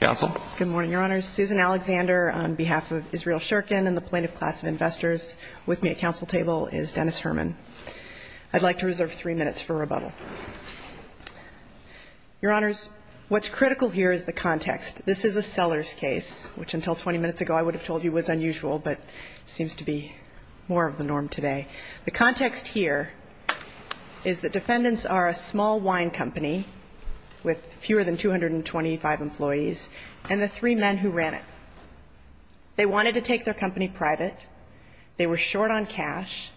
Good morning, Your Honors. Susan Alexander on behalf of Israel Shurkin and the Plaintiff Class of Investors. With me at council table is Dennis Herman. I'd like to reserve three minutes for rebuttal. Your Honors, what's critical here is the context. This is a seller's case, which until 20 minutes ago I would have told you was unusual, but it seems to be more of the norm today. The context here is that defendants are a small wine company with fewer than 225 employees, and the plaintiff's office is a small wine company with fewer than 200 employees. And the three men who ran it, they wanted to take their company private, they were short on cash,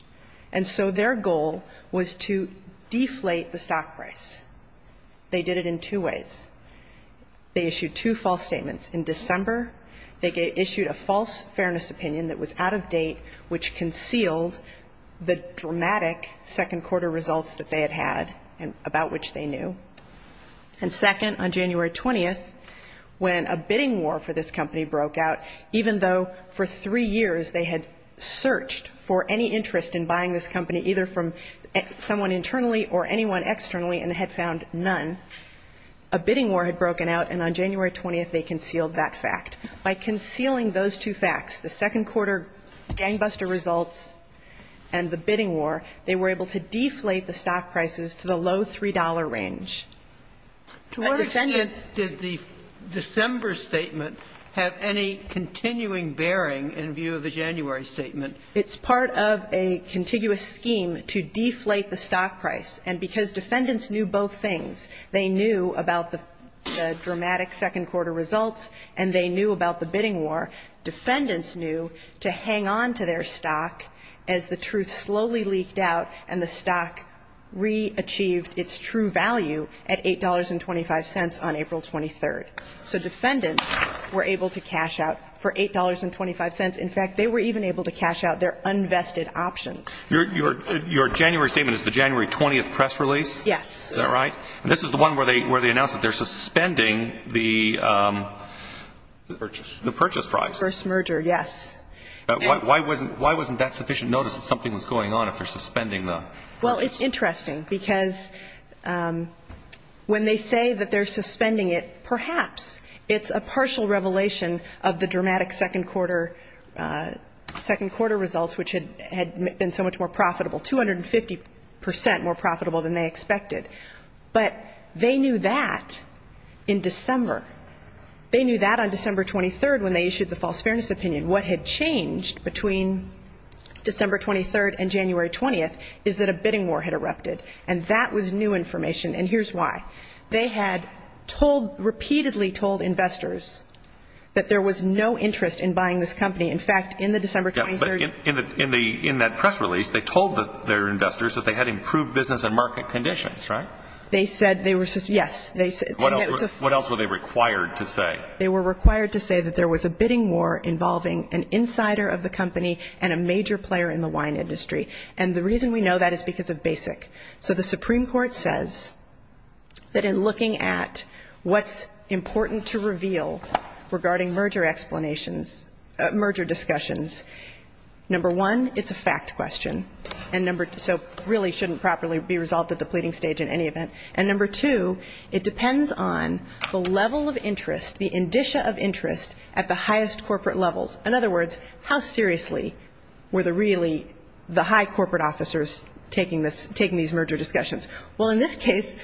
and so their goal was to deflate the stock price. They did it in two ways. They issued two false statements. In December, they issued a false fairness opinion that was out of date, which concealed the dramatic second-quarter results that they had had, about which they knew. And second, on January 20th, when a bidding war for this company broke out, even though for three years they had searched for any interest in buying this company, either from someone internally or anyone externally, and had found none, a bidding war had broken out, and on January 20th they concealed that fact. By concealing those two facts, the second-quarter gangbuster results and the bidding war, they were able to deflate the stock prices to the lowest possible $0.03 range. To our extent, did the December statement have any continuing bearing in view of the January statement? It's part of a contiguous scheme to deflate the stock price. And because defendants knew both things, they knew about the dramatic second-quarter results and they knew about the bidding war, defendants knew to hang on to their stock as the truth slowly leaked out and the stock re-achieved its true value at $8.25 on April 23rd. So defendants were able to cash out for $8.25. In fact, they were even able to cash out their unvested options. Your January statement is the January 20th press release? Yes. Is that right? And this is the one where they announce that they're suspending the purchase price? The first merger, yes. Why wasn't that sufficient notice that something was going on if they're suspending the purchase? Well, it's interesting, because when they say that they're suspending it, perhaps it's a partial revelation of the dramatic second-quarter results, which had been so much more profitable, 250 percent more profitable than they expected. But the fact that they were able to cash out their uninvested options, they knew that in December. They knew that on December 23rd when they issued the false fairness opinion. What had changed between December 23rd and January 20th is that a bidding war had erupted. And that was new information. And here's why. They had told, repeatedly told investors that there was no interest in buying this company. In fact, in the December 23rd... They said they were, yes. What else were they required to say? They were required to say that there was a bidding war involving an insider of the company and a major player in the wine industry. And the reason we know that is because of BASIC. So the Supreme Court says that in looking at what's important to reveal regarding merger explanations, merger discussions, number one, it's a fact question. And number two, so really shouldn't properly be resolved at the pleading stage in any event. And number two, it depends on the level of interest, the indicia of interest at the highest corporate levels. In other words, how seriously were the really, the high corporate officers taking these merger discussions? Well, in this case,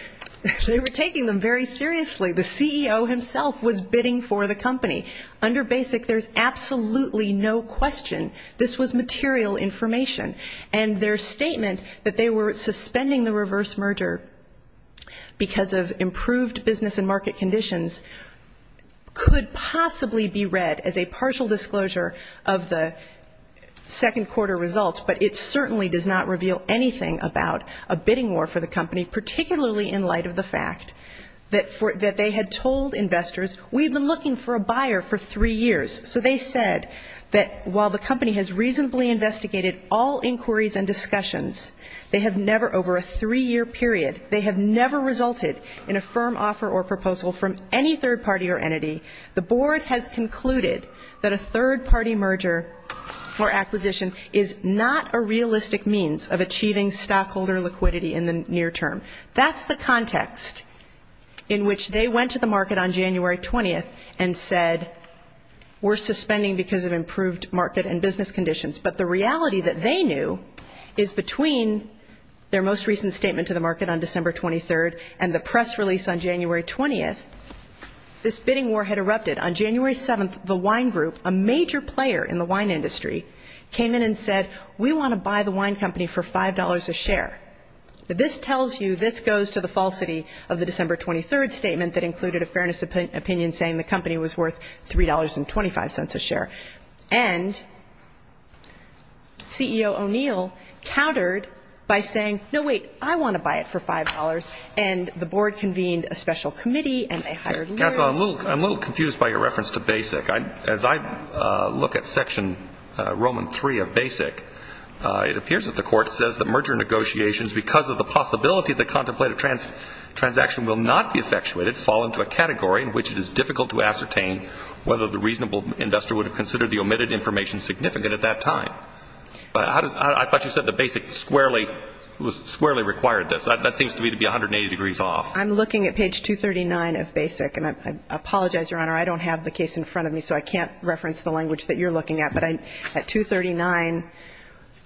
they were taking them very seriously. The CEO himself was bidding for the company. Under BASIC, there's absolutely no question this was material information. And their statement that they were suspending the reverse merger because of improved business and market conditions could possibly be read as a partial disclosure of the second quarter results. But it certainly does not reveal anything about a bidding war for the company, particularly in light of the fact that they had told investors, we've been looking for a buyer for three years. So they said that while the company has reasonably investigated all inquiries and discussions, they have never over a three-year period, they have never resulted in a firm offer or proposal from any third party or entity, the board has concluded that a third party merger or acquisition is not a realistic means of achieving stockholder liquidity in the near term. That's the context in which they went to the market on January 20th and said, we're suspending because of improved market and business conditions. But the reality that they knew is between their most recent statement to the market on December 23rd and the press release on January 20th, this bidding war had erupted. On January 7th, the wine group, a major player in the wine industry, came in and said, we want to buy the wine company for $5 a share. This tells you, this goes to the falsity of the December 23rd statement that included a fairness opinion saying the company was worth $3.25 a share. And CEO O'Neill countered by saying, no, wait, I want to buy it for $5. And the board convened a special committee and they hired lawyers. I'm a little confused by your reference to BASIC. As I look at section Roman 3 of BASIC, it appears that the court says that merger negotiations because of the possibility the contemplated transaction will not be effectuated, fall into a category in which it is difficult to ascertain whether the reasonable investor would have considered the omitted information significant at that time. But I thought you said that BASIC squarely required this. That seems to me to be 180 degrees off. I'm looking at page 239 of BASIC, and I apologize, Your Honor, I don't have the case in front of me, so I can't reference the language that you're looking at. But at 239,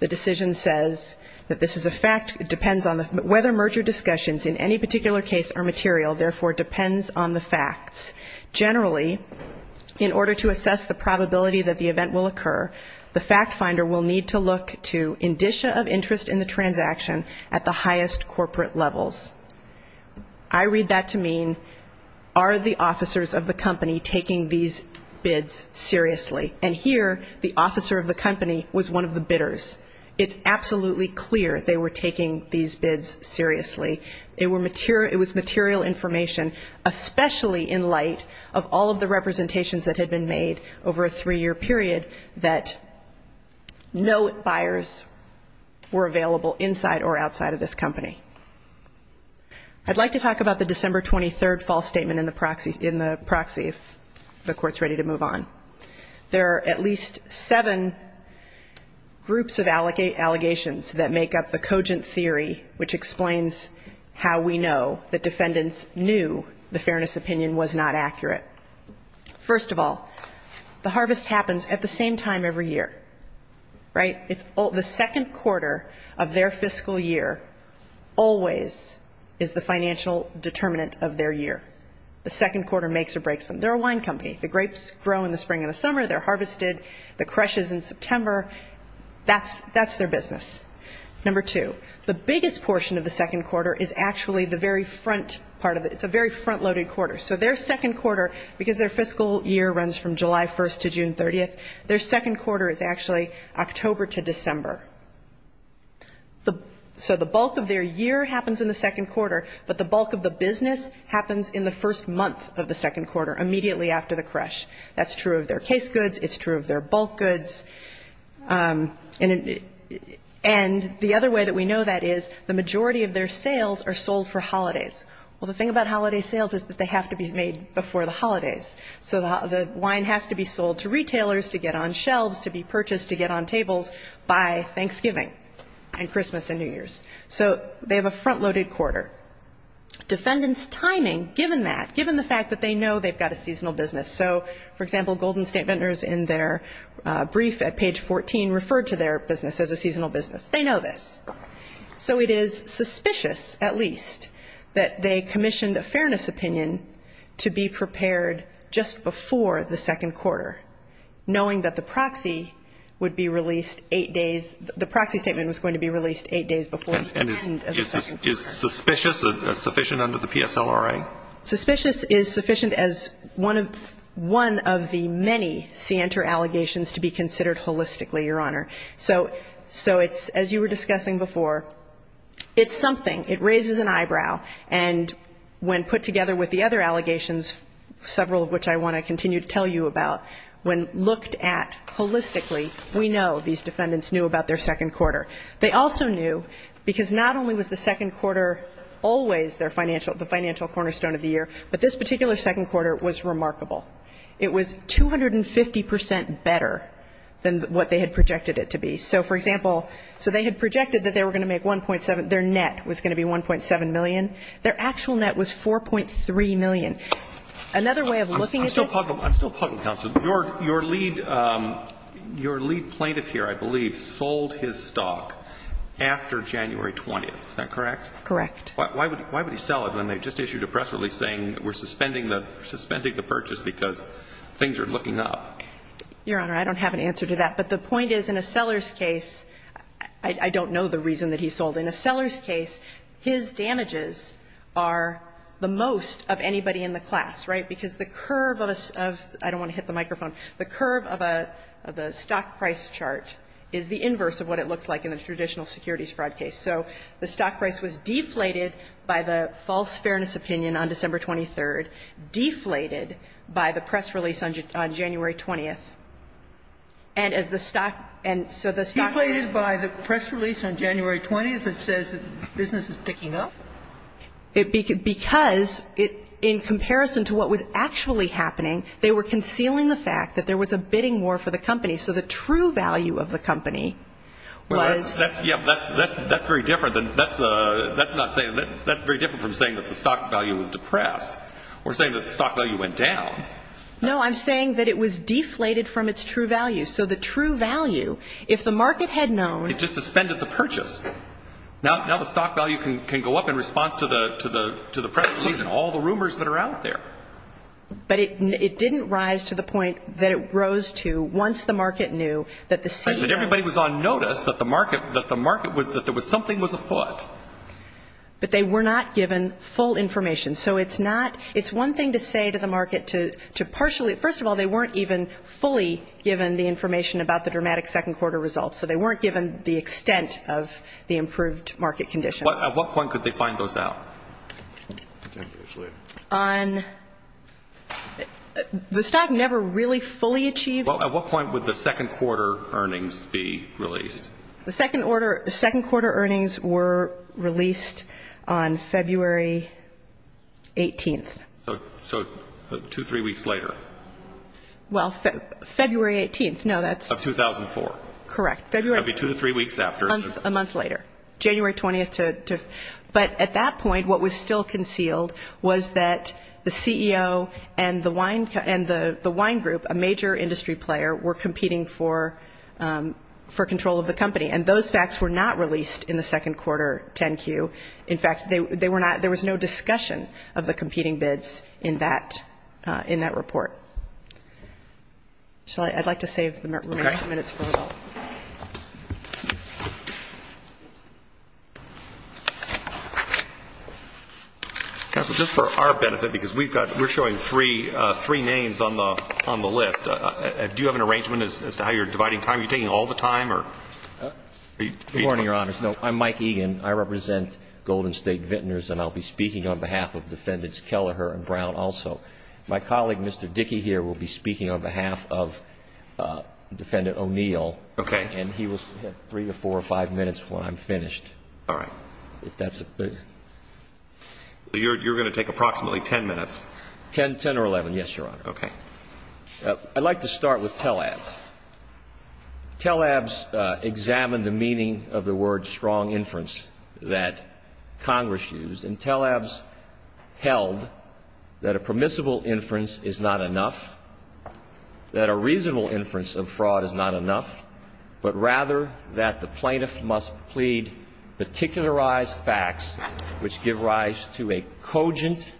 the decision says that this is a fact, it depends on whether merger discussions in any particular case are material, therefore it depends on the facts. Generally, in order to assess the probability that the event will occur, the fact finder will need to look to indicia of interest in the transaction at the highest corporate levels. I read that to mean, are the officers of the company taking these bids seriously? And here, the officer of the company was one of the bidders. It's absolutely clear they were taking these bids seriously. It was material information, especially in light of all of the representations that had been made over a three-year period that no buyers were available inside or outside of this company. I'd like to talk about the December 23rd false statement in the proxy, in the proxy, if the Court's ready to move on. There are at least seven groups of allegations that make up the cogent theory, which explains how we know that defendants knew the fairness opinion was not accurate. First of all, the harvest happens at the same time every year, right? The second quarter of their fiscal year always is the financial determinant of their year. The second quarter makes or breaks them. They're a wine company, the grapes grow in the spring and the summer, they're harvested, the crush is in September, that's their business. Number two, the biggest portion of the second quarter is actually the very front part of it, it's a very front-loaded quarter. So their second quarter, because their fiscal year runs from July 1st to June 30th, their second quarter is actually October to December. So the bulk of their year happens in the second quarter, but the bulk of the business happens in the first month of the second quarter, immediately after the crush. That's true of their case goods, it's true of their bulk goods. And the other way that we know that is the majority of their sales are sold for holidays. Well, the thing about holiday sales is that they have to be made before the holidays, so the wine has to be sold to retailers to get on shelves, to be purchased, to get on tables. By Thanksgiving and Christmas and New Year's. So they have a front-loaded quarter. Defendants' timing, given that, given the fact that they know they've got a seasonal business, so, for example, Golden State Vendors in their brief at page 14 referred to their business as a seasonal business, they know this. So it is suspicious, at least, that they commissioned a fairness opinion to be prepared just before the second quarter, knowing that the proxy would be released eight days before the end of the second quarter. And is suspicious sufficient under the PSLRA? Suspicious is sufficient as one of the many scienter allegations to be considered holistically, Your Honor. So it's, as you were discussing before, it's something, it raises an eyebrow, and when put together with the other allegations, several of which I want to continue to tell you about, when looked at holistically, we know these defendants knew about their second quarter. They also knew, because not only was the second quarter always their financial, the financial cornerstone of the year, but this particular second quarter was remarkable. It was 250 percent better than what they had projected it to be. So, for example, so they had projected that they were going to make 1.7, their net was going to be 1.7 million. Their actual net was 4.3 million. Another way of looking at this. I'm still puzzled, counsel. Your lead plaintiff here, I believe, sold his stock after January 20th. Is that correct? Correct. Why would he sell it when they just issued a press release saying we're suspending the purchase because things are looking up? Your Honor, I don't have an answer to that. But the point is, in a seller's case, I don't know the reason that he sold. I think it was because the stock prices are the most of anybody in the class, right? Because the curve of a stock – I don't want to hit the microphone – the curve of a stock price chart is the inverse of what it looks like in a traditional securities fraud case. So the stock price was deflated by the false fairness opinion on December 23rd, deflated by the press release on January 20th. And as the stock – and so the stock price – deflated by the press release on January 20th that says that business is picking up? Because in comparison to what was actually happening, they were concealing the fact that there was a bidding war for the company. So the true value of the company was – Well, that's very different than – that's not saying – that's very different from saying that the stock value was depressed. We're saying that the stock value went down. No, I'm saying that it was deflated from its true value. So the true value, if the market had known – It just suspended the purchase. Now the stock value can go up in response to the press release and all the rumors that are out there. But it didn't rise to the point that it rose to once the market knew that the CEO – Right, but everybody was on notice that the market – that the market was – that there was – something was afoot. But they were not given full information. So it's not – it's one thing to say to the market, to the CEO, but it's one thing to partially – first of all, they weren't even fully given the information about the dramatic second quarter results. So they weren't given the extent of the improved market conditions. At what point could they find those out? On – the stock never really fully achieved – Well, at what point would the second quarter earnings be released? The second order – the second quarter earnings were released on February 18th. So two, three weeks later. Well, February 18th. No, that's – Of 2004. Correct. February – And those facts were not released in the second quarter 10-Q. In fact, they were not – there was no discussion of the competing bids in that – in that report. Shall I – I'd like to save the remaining minutes for the – Counsel, just for our benefit, because we've got – we're showing three names on the list. Do you have an arrangement as to how you're dividing time? Are you taking all the time, or – Good morning, Your Honors. No, I'm Mike Egan. I represent Golden State Vintners, and I'll be speaking on behalf of Defendants Kelleher and Brown also. My colleague, Mr. Dickey, here, will be speaking on behalf of Defendant O'Neill. Okay. And he will have three or four or five minutes when I'm finished. All right. So you're going to take approximately ten minutes. Ten or eleven, yes, Your Honor. Okay. I'd like to start with TELABS. TELABS examined the meaning of the word strong inference that Congress used, and TELABS held that a permissible inference is not enough, that a reasonable inference of fraud is not enough, but rather that the plaintiff must plead particularized facts, which give rise to a cogent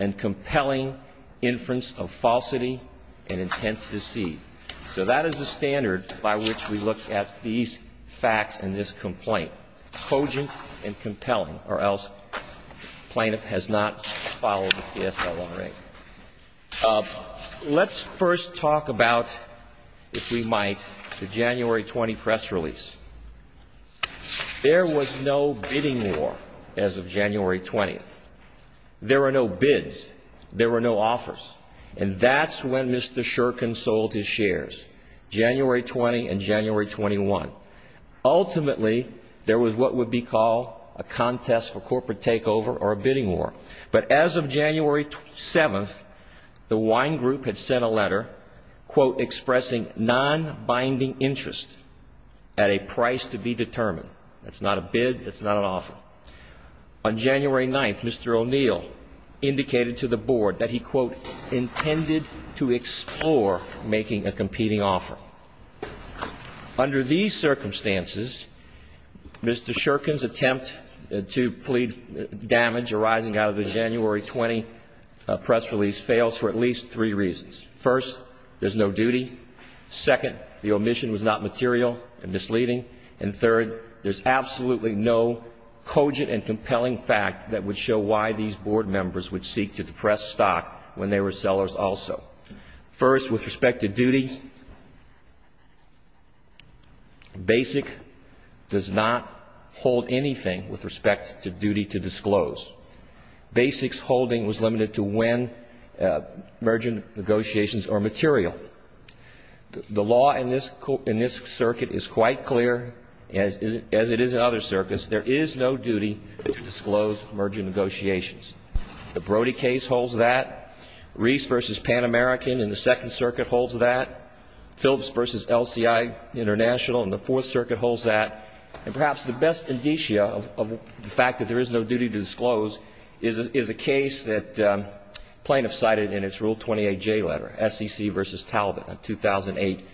and compelling inference of falsity and intent to deceive. So that is the standard by which we look at these facts in this complaint, cogent and compelling, or else plaintiff has not followed the PSL-1 rate. Let's first talk about, if we might, the January 20 press release. There was no bidding war as of January 20. There were no bids. There were no offers. And that's when Mr. Shurkin sold his shares, January 20 and January 21. Ultimately, there was what would be called a contest for corporate takeover or a bidding war. But as of January 7, the Wine Group had sent a letter, quote, expressing non-binding interest at a price to be determined. That's not a bid. That's not an offer. On January 9, Mr. O'Neill indicated to the Board that he, quote, intended to explore making a competing offer. Under these circumstances, Mr. Shurkin's attempt to plead damage arising out of the January 20 press release fails for at least three reasons. First, there's no duty. Second, the omission was not material and misleading. And third, there's absolutely no cogent and compelling fact that would show why these Board members would seek to depress stock when they were sellers also. First, with respect to duty, BASIC does not hold anything with respect to duty to disclose. BASIC's holding was limited to when merger negotiations are material. The law in this circuit is quite clear, as it is in other circuits. There is no duty to disclose merger negotiations. The Brody case holds that. Reese v. Pan American in the Second Circuit holds that. Phillips v. LCI International in the Fourth Circuit holds that. And perhaps the best indicia of the fact that there is no duty to disclose is a case that plaintiffs cited in its Rule 28J letter, SEC v. Talbot, a 2008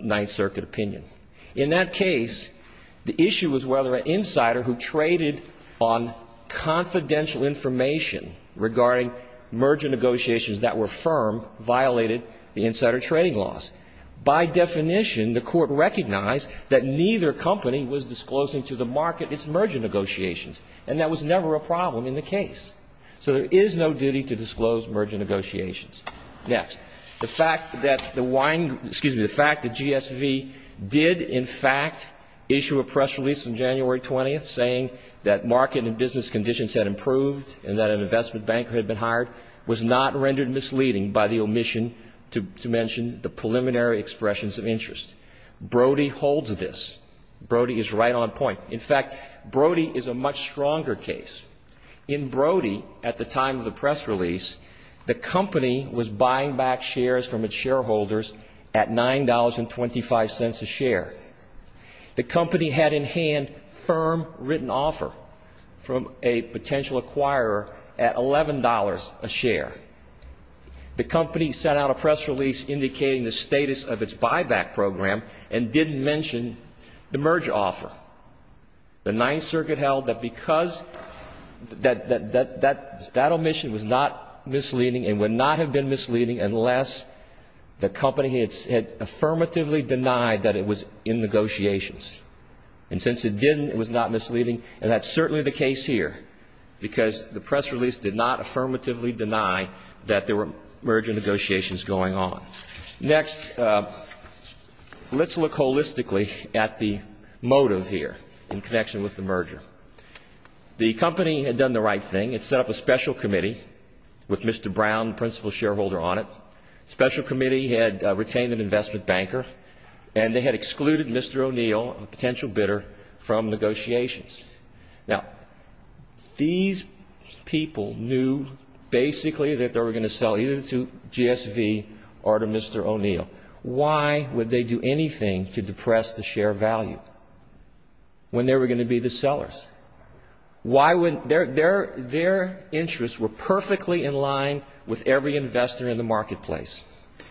Ninth Circuit opinion. In that case, the issue was whether an insider who traded on confidential information regarding merger negotiations that were firm violated the insider trading laws. By definition, the Court recognized that neither company was disclosing to the market its merger negotiations. And that was never a problem in the case. So there is no duty to disclose merger negotiations. Next, the fact that the GSV did, in fact, issue a press release on January 20th saying that market and business conditions had improved. And that an investment banker had been hired was not rendered misleading by the omission to mention the preliminary expressions of interest. Brody holds this. Brody is right on point. In fact, Brody is a much stronger case. In Brody, at the time of the press release, the company was buying back shares from its shareholders at $9.25 a share. The company had in hand firm written offer from a potential acquirer of a share of Brody. The firm had in hand firm written offer at $11 a share. The company sent out a press release indicating the status of its buyback program and didn't mention the merge offer. The Ninth Circuit held that because that omission was not misleading and would not have been misleading unless the company had affirmatively denied that it was in negotiations. And since it didn't, it was not misleading, and that's certainly the case here, because the press release did not affirmatively deny that there were merger negotiations going on. Next, let's look holistically at the motive here in connection with the merger. The company had done the right thing. It set up a special committee with Mr. Brown, principal shareholder, on it. The special committee had retained an investment banker, and they had excluded Mr. O'Neill, a potential bidder, from negotiations. Now, these people knew basically that they were going to sell either to GSV or to Mr. O'Neill. Why would they do anything to depress the share value when they were going to be the sellers? Their interests were perfectly in line with every investor in the marketplace.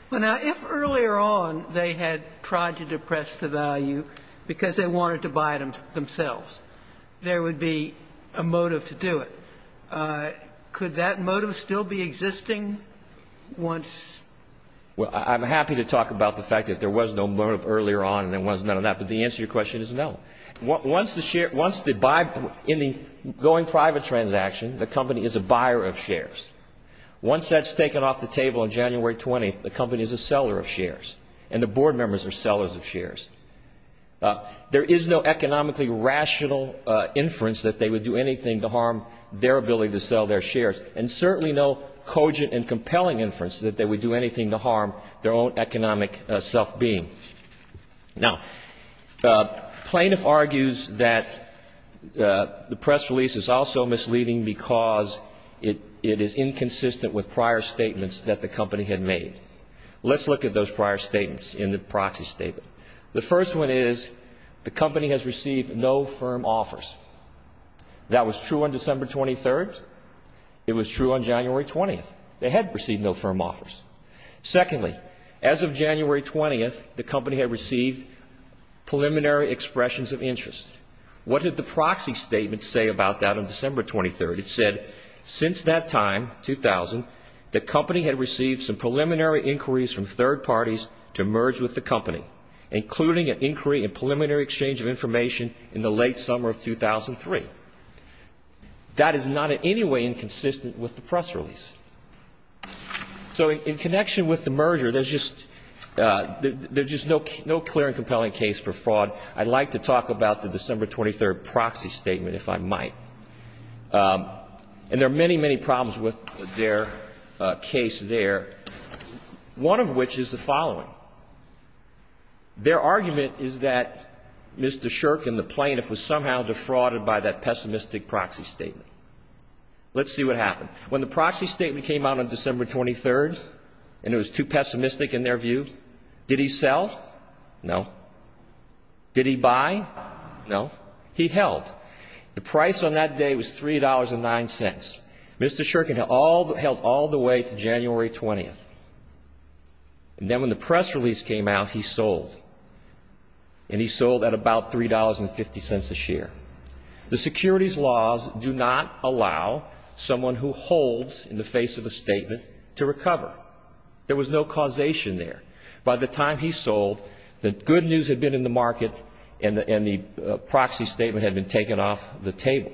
Well, now, if earlier on they had tried to depress the value because they wanted to buy it themselves, there would be a motive to do it. Could that motive still be existing once...? Well, I'm happy to talk about the fact that there was no motive earlier on and there was none of that, but the answer to your question is no. Once the share — once the — in the going private transaction, the company is a buyer of shares. Once that's taken off the table on January 20th, the company is a seller of shares, and the board members are sellers of shares. There is no economically rational inference that they would do anything to harm their ability to sell their shares, and certainly no cogent and compelling inference that they would do anything to harm their own economic self-being. Now, plaintiff argues that the press release is also misleading because it is indicating that the company is a seller of shares. It is inconsistent with prior statements that the company had made. Let's look at those prior statements in the proxy statement. The first one is the company has received no firm offers. That was true on December 23rd. It was true on January 20th. They had received no firm offers. Secondly, as of January 20th, the company had received preliminary expressions of interest. What did the proxy statement say about that on December 23rd? It said, since that time, 2000, the company had received some preliminary inquiries from third parties to merge with the company, including an inquiry and preliminary exchange of information in the late summer of 2003. That is not in any way inconsistent with the press release. In connection with the merger, there is just no clear and compelling case for fraud. I would like to talk about the December 23rd proxy statement, if I might. And there are many, many problems with their case there, one of which is the following. Their argument is that Mr. Shirk and the plaintiff were somehow defrauded by that pessimistic proxy statement. Let's see what happened. When the proxy statement came out on December 23rd, and it was too pessimistic in their view, did he sell? No. Did he buy? No. He held. The price on that day was $3.09. Mr. Shirk held all the way to January 20th. And then when the press release came out, he sold. And he sold at about $3.50 a share. The securities laws do not allow someone who holds in the face of a statement to recover. There was no causation there. By the time he sold, the good news had been in the market and the proxy statement had been taken off the table.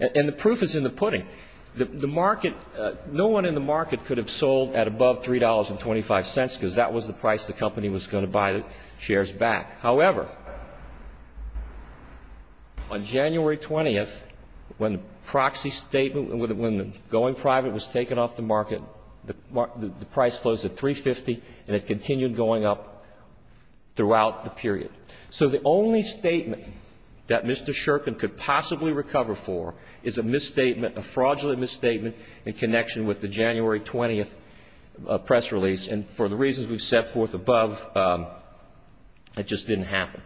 And the proof is in the pudding. The market, no one in the market could have sold at above $3.25 because that was the price the company was going to buy the shares back. However, on January 20th, when the proxy statement, when the going private was taken off the market, the price closed at $3.50 and it continued going up throughout the period. So the only statement that Mr. Shirk could possibly recover for is a misstatement, a fraudulent misstatement in connection with the January 20th press release. And for the reasons we've set forth above, it just didn't happen.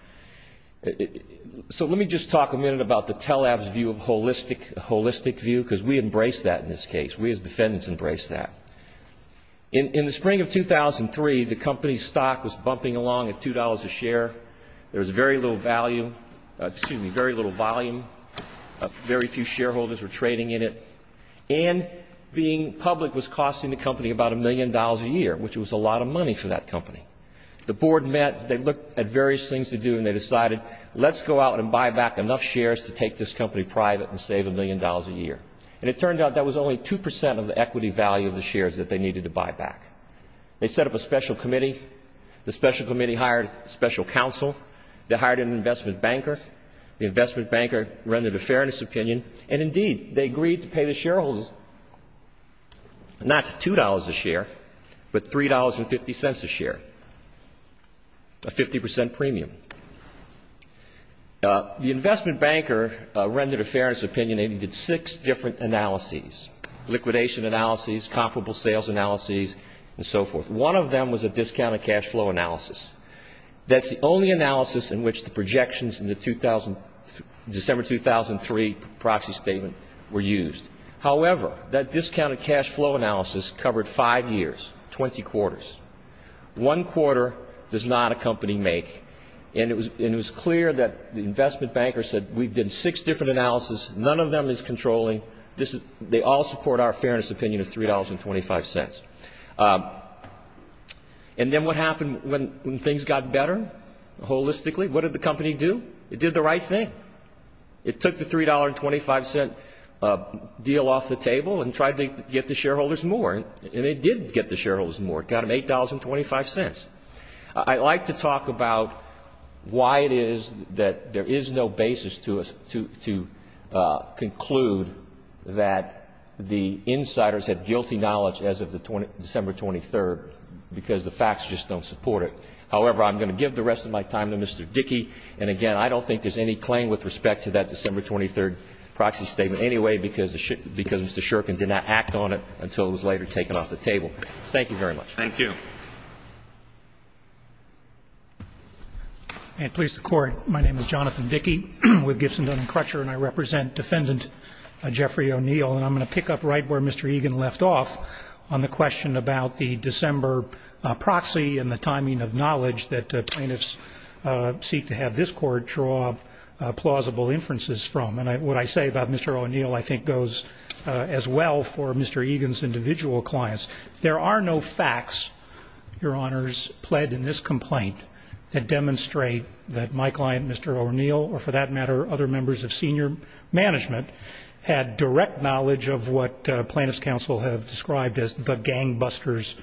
So let me just talk a minute about the tele-app's view of holistic view, because we embrace that in this case. We as defendants embrace that. In the spring of 2003, the company's stock was bumping along at $2 a share. There was very little value, excuse me, very little volume. Very few shareholders were trading in it. And being public was costing the company about a million dollars a year, which was a lot of money for that company. The board met, they looked at various things to do, and they decided, let's go out and buy back enough shares to take this company private and save a million dollars a year. And it turned out that was only 2% of the equity value of the shares that they needed to buy back. They set up a special committee. The special committee hired a special counsel. They hired an investment banker. The investment banker rendered a fairness opinion, and indeed, they agreed to pay the shareholders not $2 a share, but $3.50 a share, a 50% premium. The investment banker rendered a fairness opinion, and he did six different analyses, liquidation analyses, comparable sales analyses, and so forth. One of them was a discounted cash flow analysis. That's the only analysis in which the projections in the December 2003 proxy statement were used. However, that discounted cash flow analysis covered five years, 20 quarters. One quarter does not a company make, and it was clear that the investment banker said, we did six different analyses, none of them is controlling. They all support our fairness opinion of $3.25. And then what happened when things got better, holistically? What did the company do? It did the right thing. It took the $3.25 deal off the table and tried to get the shareholders more, and it did get the shareholders more. It got them $8.25. I'd like to talk about why it is that there is no basis to conclude that the insiders had guilty knowledge as of December 2003. Because the facts just don't support it. However, I'm going to give the rest of my time to Mr. Dickey, and again, I don't think there's any claim with respect to that December 23 proxy statement anyway, because Mr. Shurkin did not act on it until it was later taken off the table. Thank you very much. Thank you. And please, the Court, my name is Jonathan Dickey with Gibson, Dunn & Crutcher, and I represent Defendant Jeffrey O'Neill. And I'm going to pick up right where Mr. Egan left off on the question about the December proxy and the timing of knowledge that plaintiffs seek to have this Court draw plausible inferences from. And what I say about Mr. O'Neill I think goes as well for Mr. Egan's individual clients. There are no facts, Your Honors, pled in this complaint that demonstrate that my client, Mr. O'Neill, or for that matter other members of senior management, had direct knowledge of what plaintiffs' counsel have described as the gangbusters'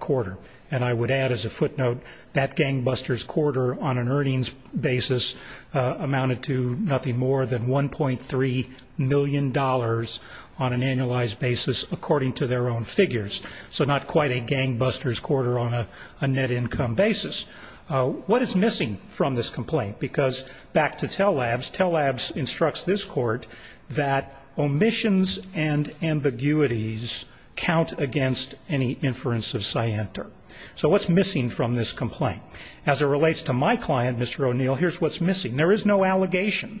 quarter. And I would add as a footnote, that gangbusters' quarter on an earnings basis amounted to nothing more than $1.3 million on an annualized basis according to their own figures. So not quite a gangbusters' quarter on a net income basis. What is missing from this complaint? Because back to Tell Labs, Tell Labs instructs this Court that omissions and ambiguities count against any inference of scienter. So what's missing from this complaint? As it relates to my client, Mr. O'Neill, here's what's missing. There is no allegation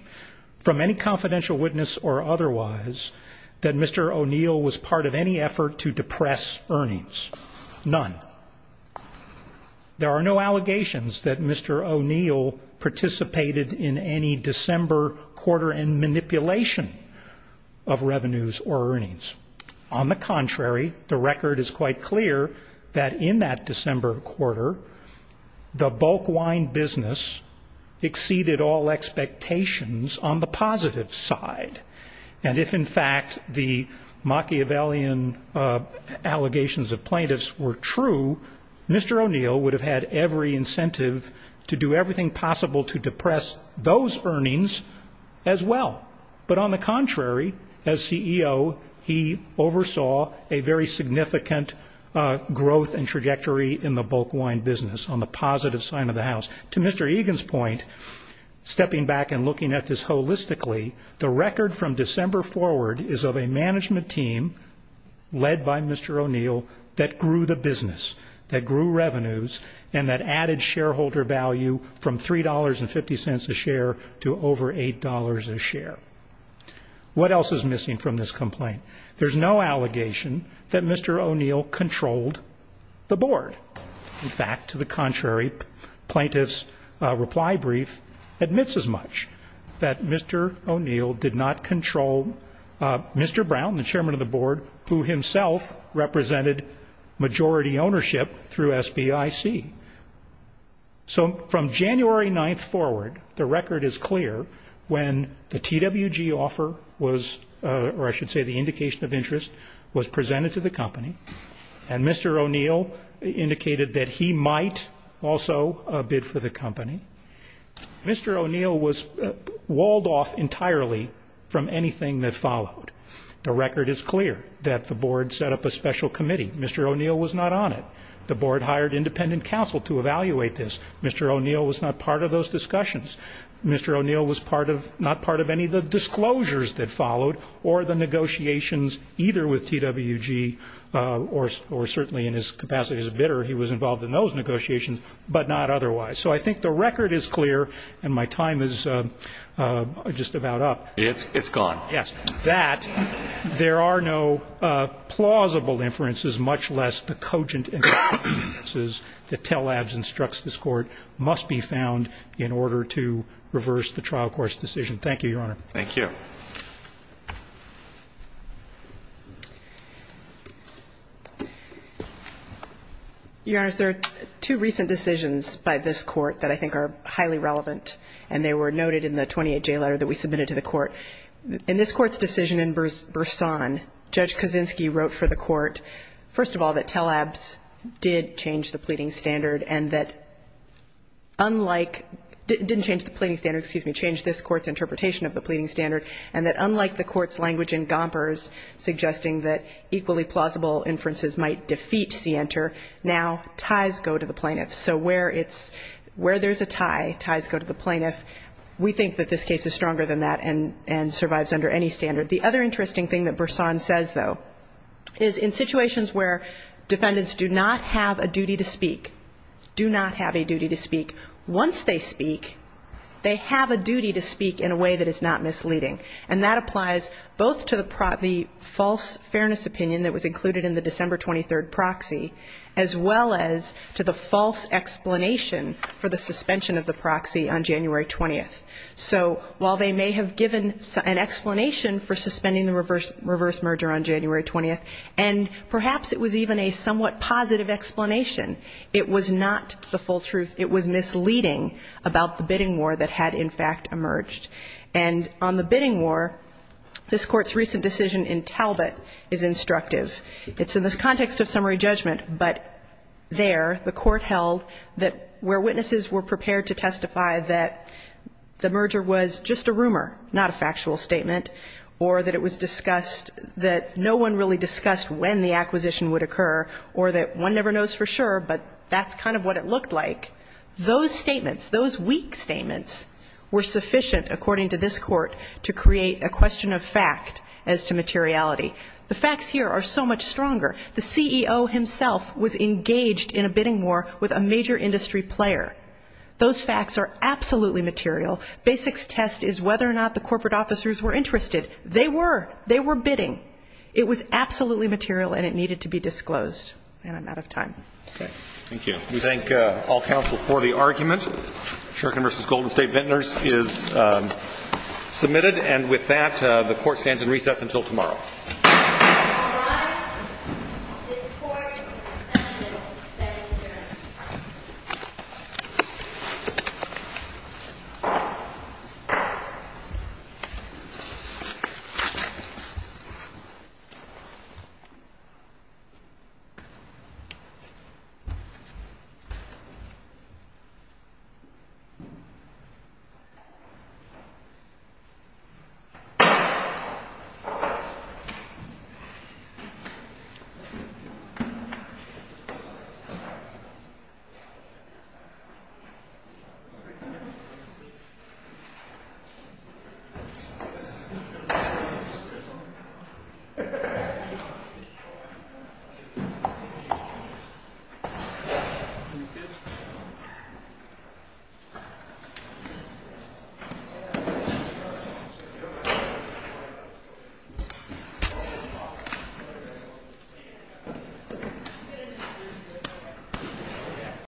from any confidential witness or otherwise that Mr. O'Neill was part of any effort to depress earnings, none. There are no allegations that Mr. O'Neill participated in any December quarter in manipulation of revenues or earnings. On the contrary, the record is quite clear that in that December quarter, the bulk wine business exceeded all of its revenues. It exceeded all expectations on the positive side. And if, in fact, the Machiavellian allegations of plaintiffs were true, Mr. O'Neill would have had every incentive to do everything possible to depress those earnings as well. But on the contrary, as CEO, he oversaw a very significant growth and trajectory in the bulk wine business on the positive side of the house. To Mr. Egan's point, stepping back and looking at this holistically, the record from December forward is of a management team led by Mr. O'Neill that grew the business, that grew revenues, and that added shareholder value from $3.50 a share to over $8 a share. What else is missing from this complaint? There's no allegation that Mr. O'Neill controlled the board. In fact, to the contrary, plaintiff's reply brief admits as much, that Mr. O'Neill did not control Mr. Brown, the chairman of the board, who himself represented majority ownership through SBIC. So from January 9th forward, the record is clear when the TWG offer was, or I should say, the indicator that Mr. O'Neill was controlling the board. The board's indication of interest was presented to the company, and Mr. O'Neill indicated that he might also bid for the company. Mr. O'Neill was walled off entirely from anything that followed. The record is clear that the board set up a special committee. Mr. O'Neill was not on it. The board hired independent counsel to evaluate this. Mr. O'Neill was not part of those discussions. Mr. O'Neill was not part of any of the disclosures that followed, or the negotiations either with TWG, or certainly in his capacity as a bidder, he was involved in those negotiations, but not otherwise. So I think the record is clear, and my time is just about up. It's gone. Yes. Thank you, Your Honor. Thank you. Your Honor, there are two recent decisions by this Court that I think are highly relevant, and they were noted in the 28-J letter that we submitted to the Court. In this Court's decision in Burson, Judge Kaczynski wrote for the Court, first of all, that Telabs did change the pleading standard, and that unlike didn't change the pleading standard, excuse me, changed this Court's interpretation of the pleading standard, and that unlike the Court's language in Gompers suggesting that equally plausible inferences might defeat Sienter, now ties go to the plaintiff. So where it's, where there's a tie, ties go to the plaintiff. We think that this case is stronger than that and survives under any standard. The other interesting thing that Burson says, though, is in situations where defendants do not have a duty to speak, do not have a duty to speak, once they speak, they have a duty to speak in a way that is not misleading. And that applies both to the false fairness opinion that was included in the December 23rd proxy, as well as to the false explanation for the January 20th. So while they may have given an explanation for suspending the reverse merger on January 20th, and perhaps it was even a somewhat positive explanation, it was not the full truth. It was misleading about the bidding war that had, in fact, emerged. And on the bidding war, this Court's recent decision in Talbot is instructive. It's in the context of summary judgment, but there, the Court held that where witnesses were prepared to testify that there was a merger, that the merger was just a rumor, not a factual statement, or that it was discussed, that no one really discussed when the acquisition would occur, or that one never knows for sure, but that's kind of what it looked like, those statements, those weak statements were sufficient, according to this Court, to create a question of fact as to materiality. The facts here are so much stronger. The CEO himself was engaged in a bidding war with a major industry player. Those facts are absolutely material. Basic's test is whether or not the corporate officers were interested. They were. They were bidding. It was absolutely material, and it needed to be disclosed. And I'm out of time. Thank you. We thank all counsel for the argument. Sherkin v. Golden State Vintners is submitted. And with that, the Court stands in recess until tomorrow. Thank you. Thank you.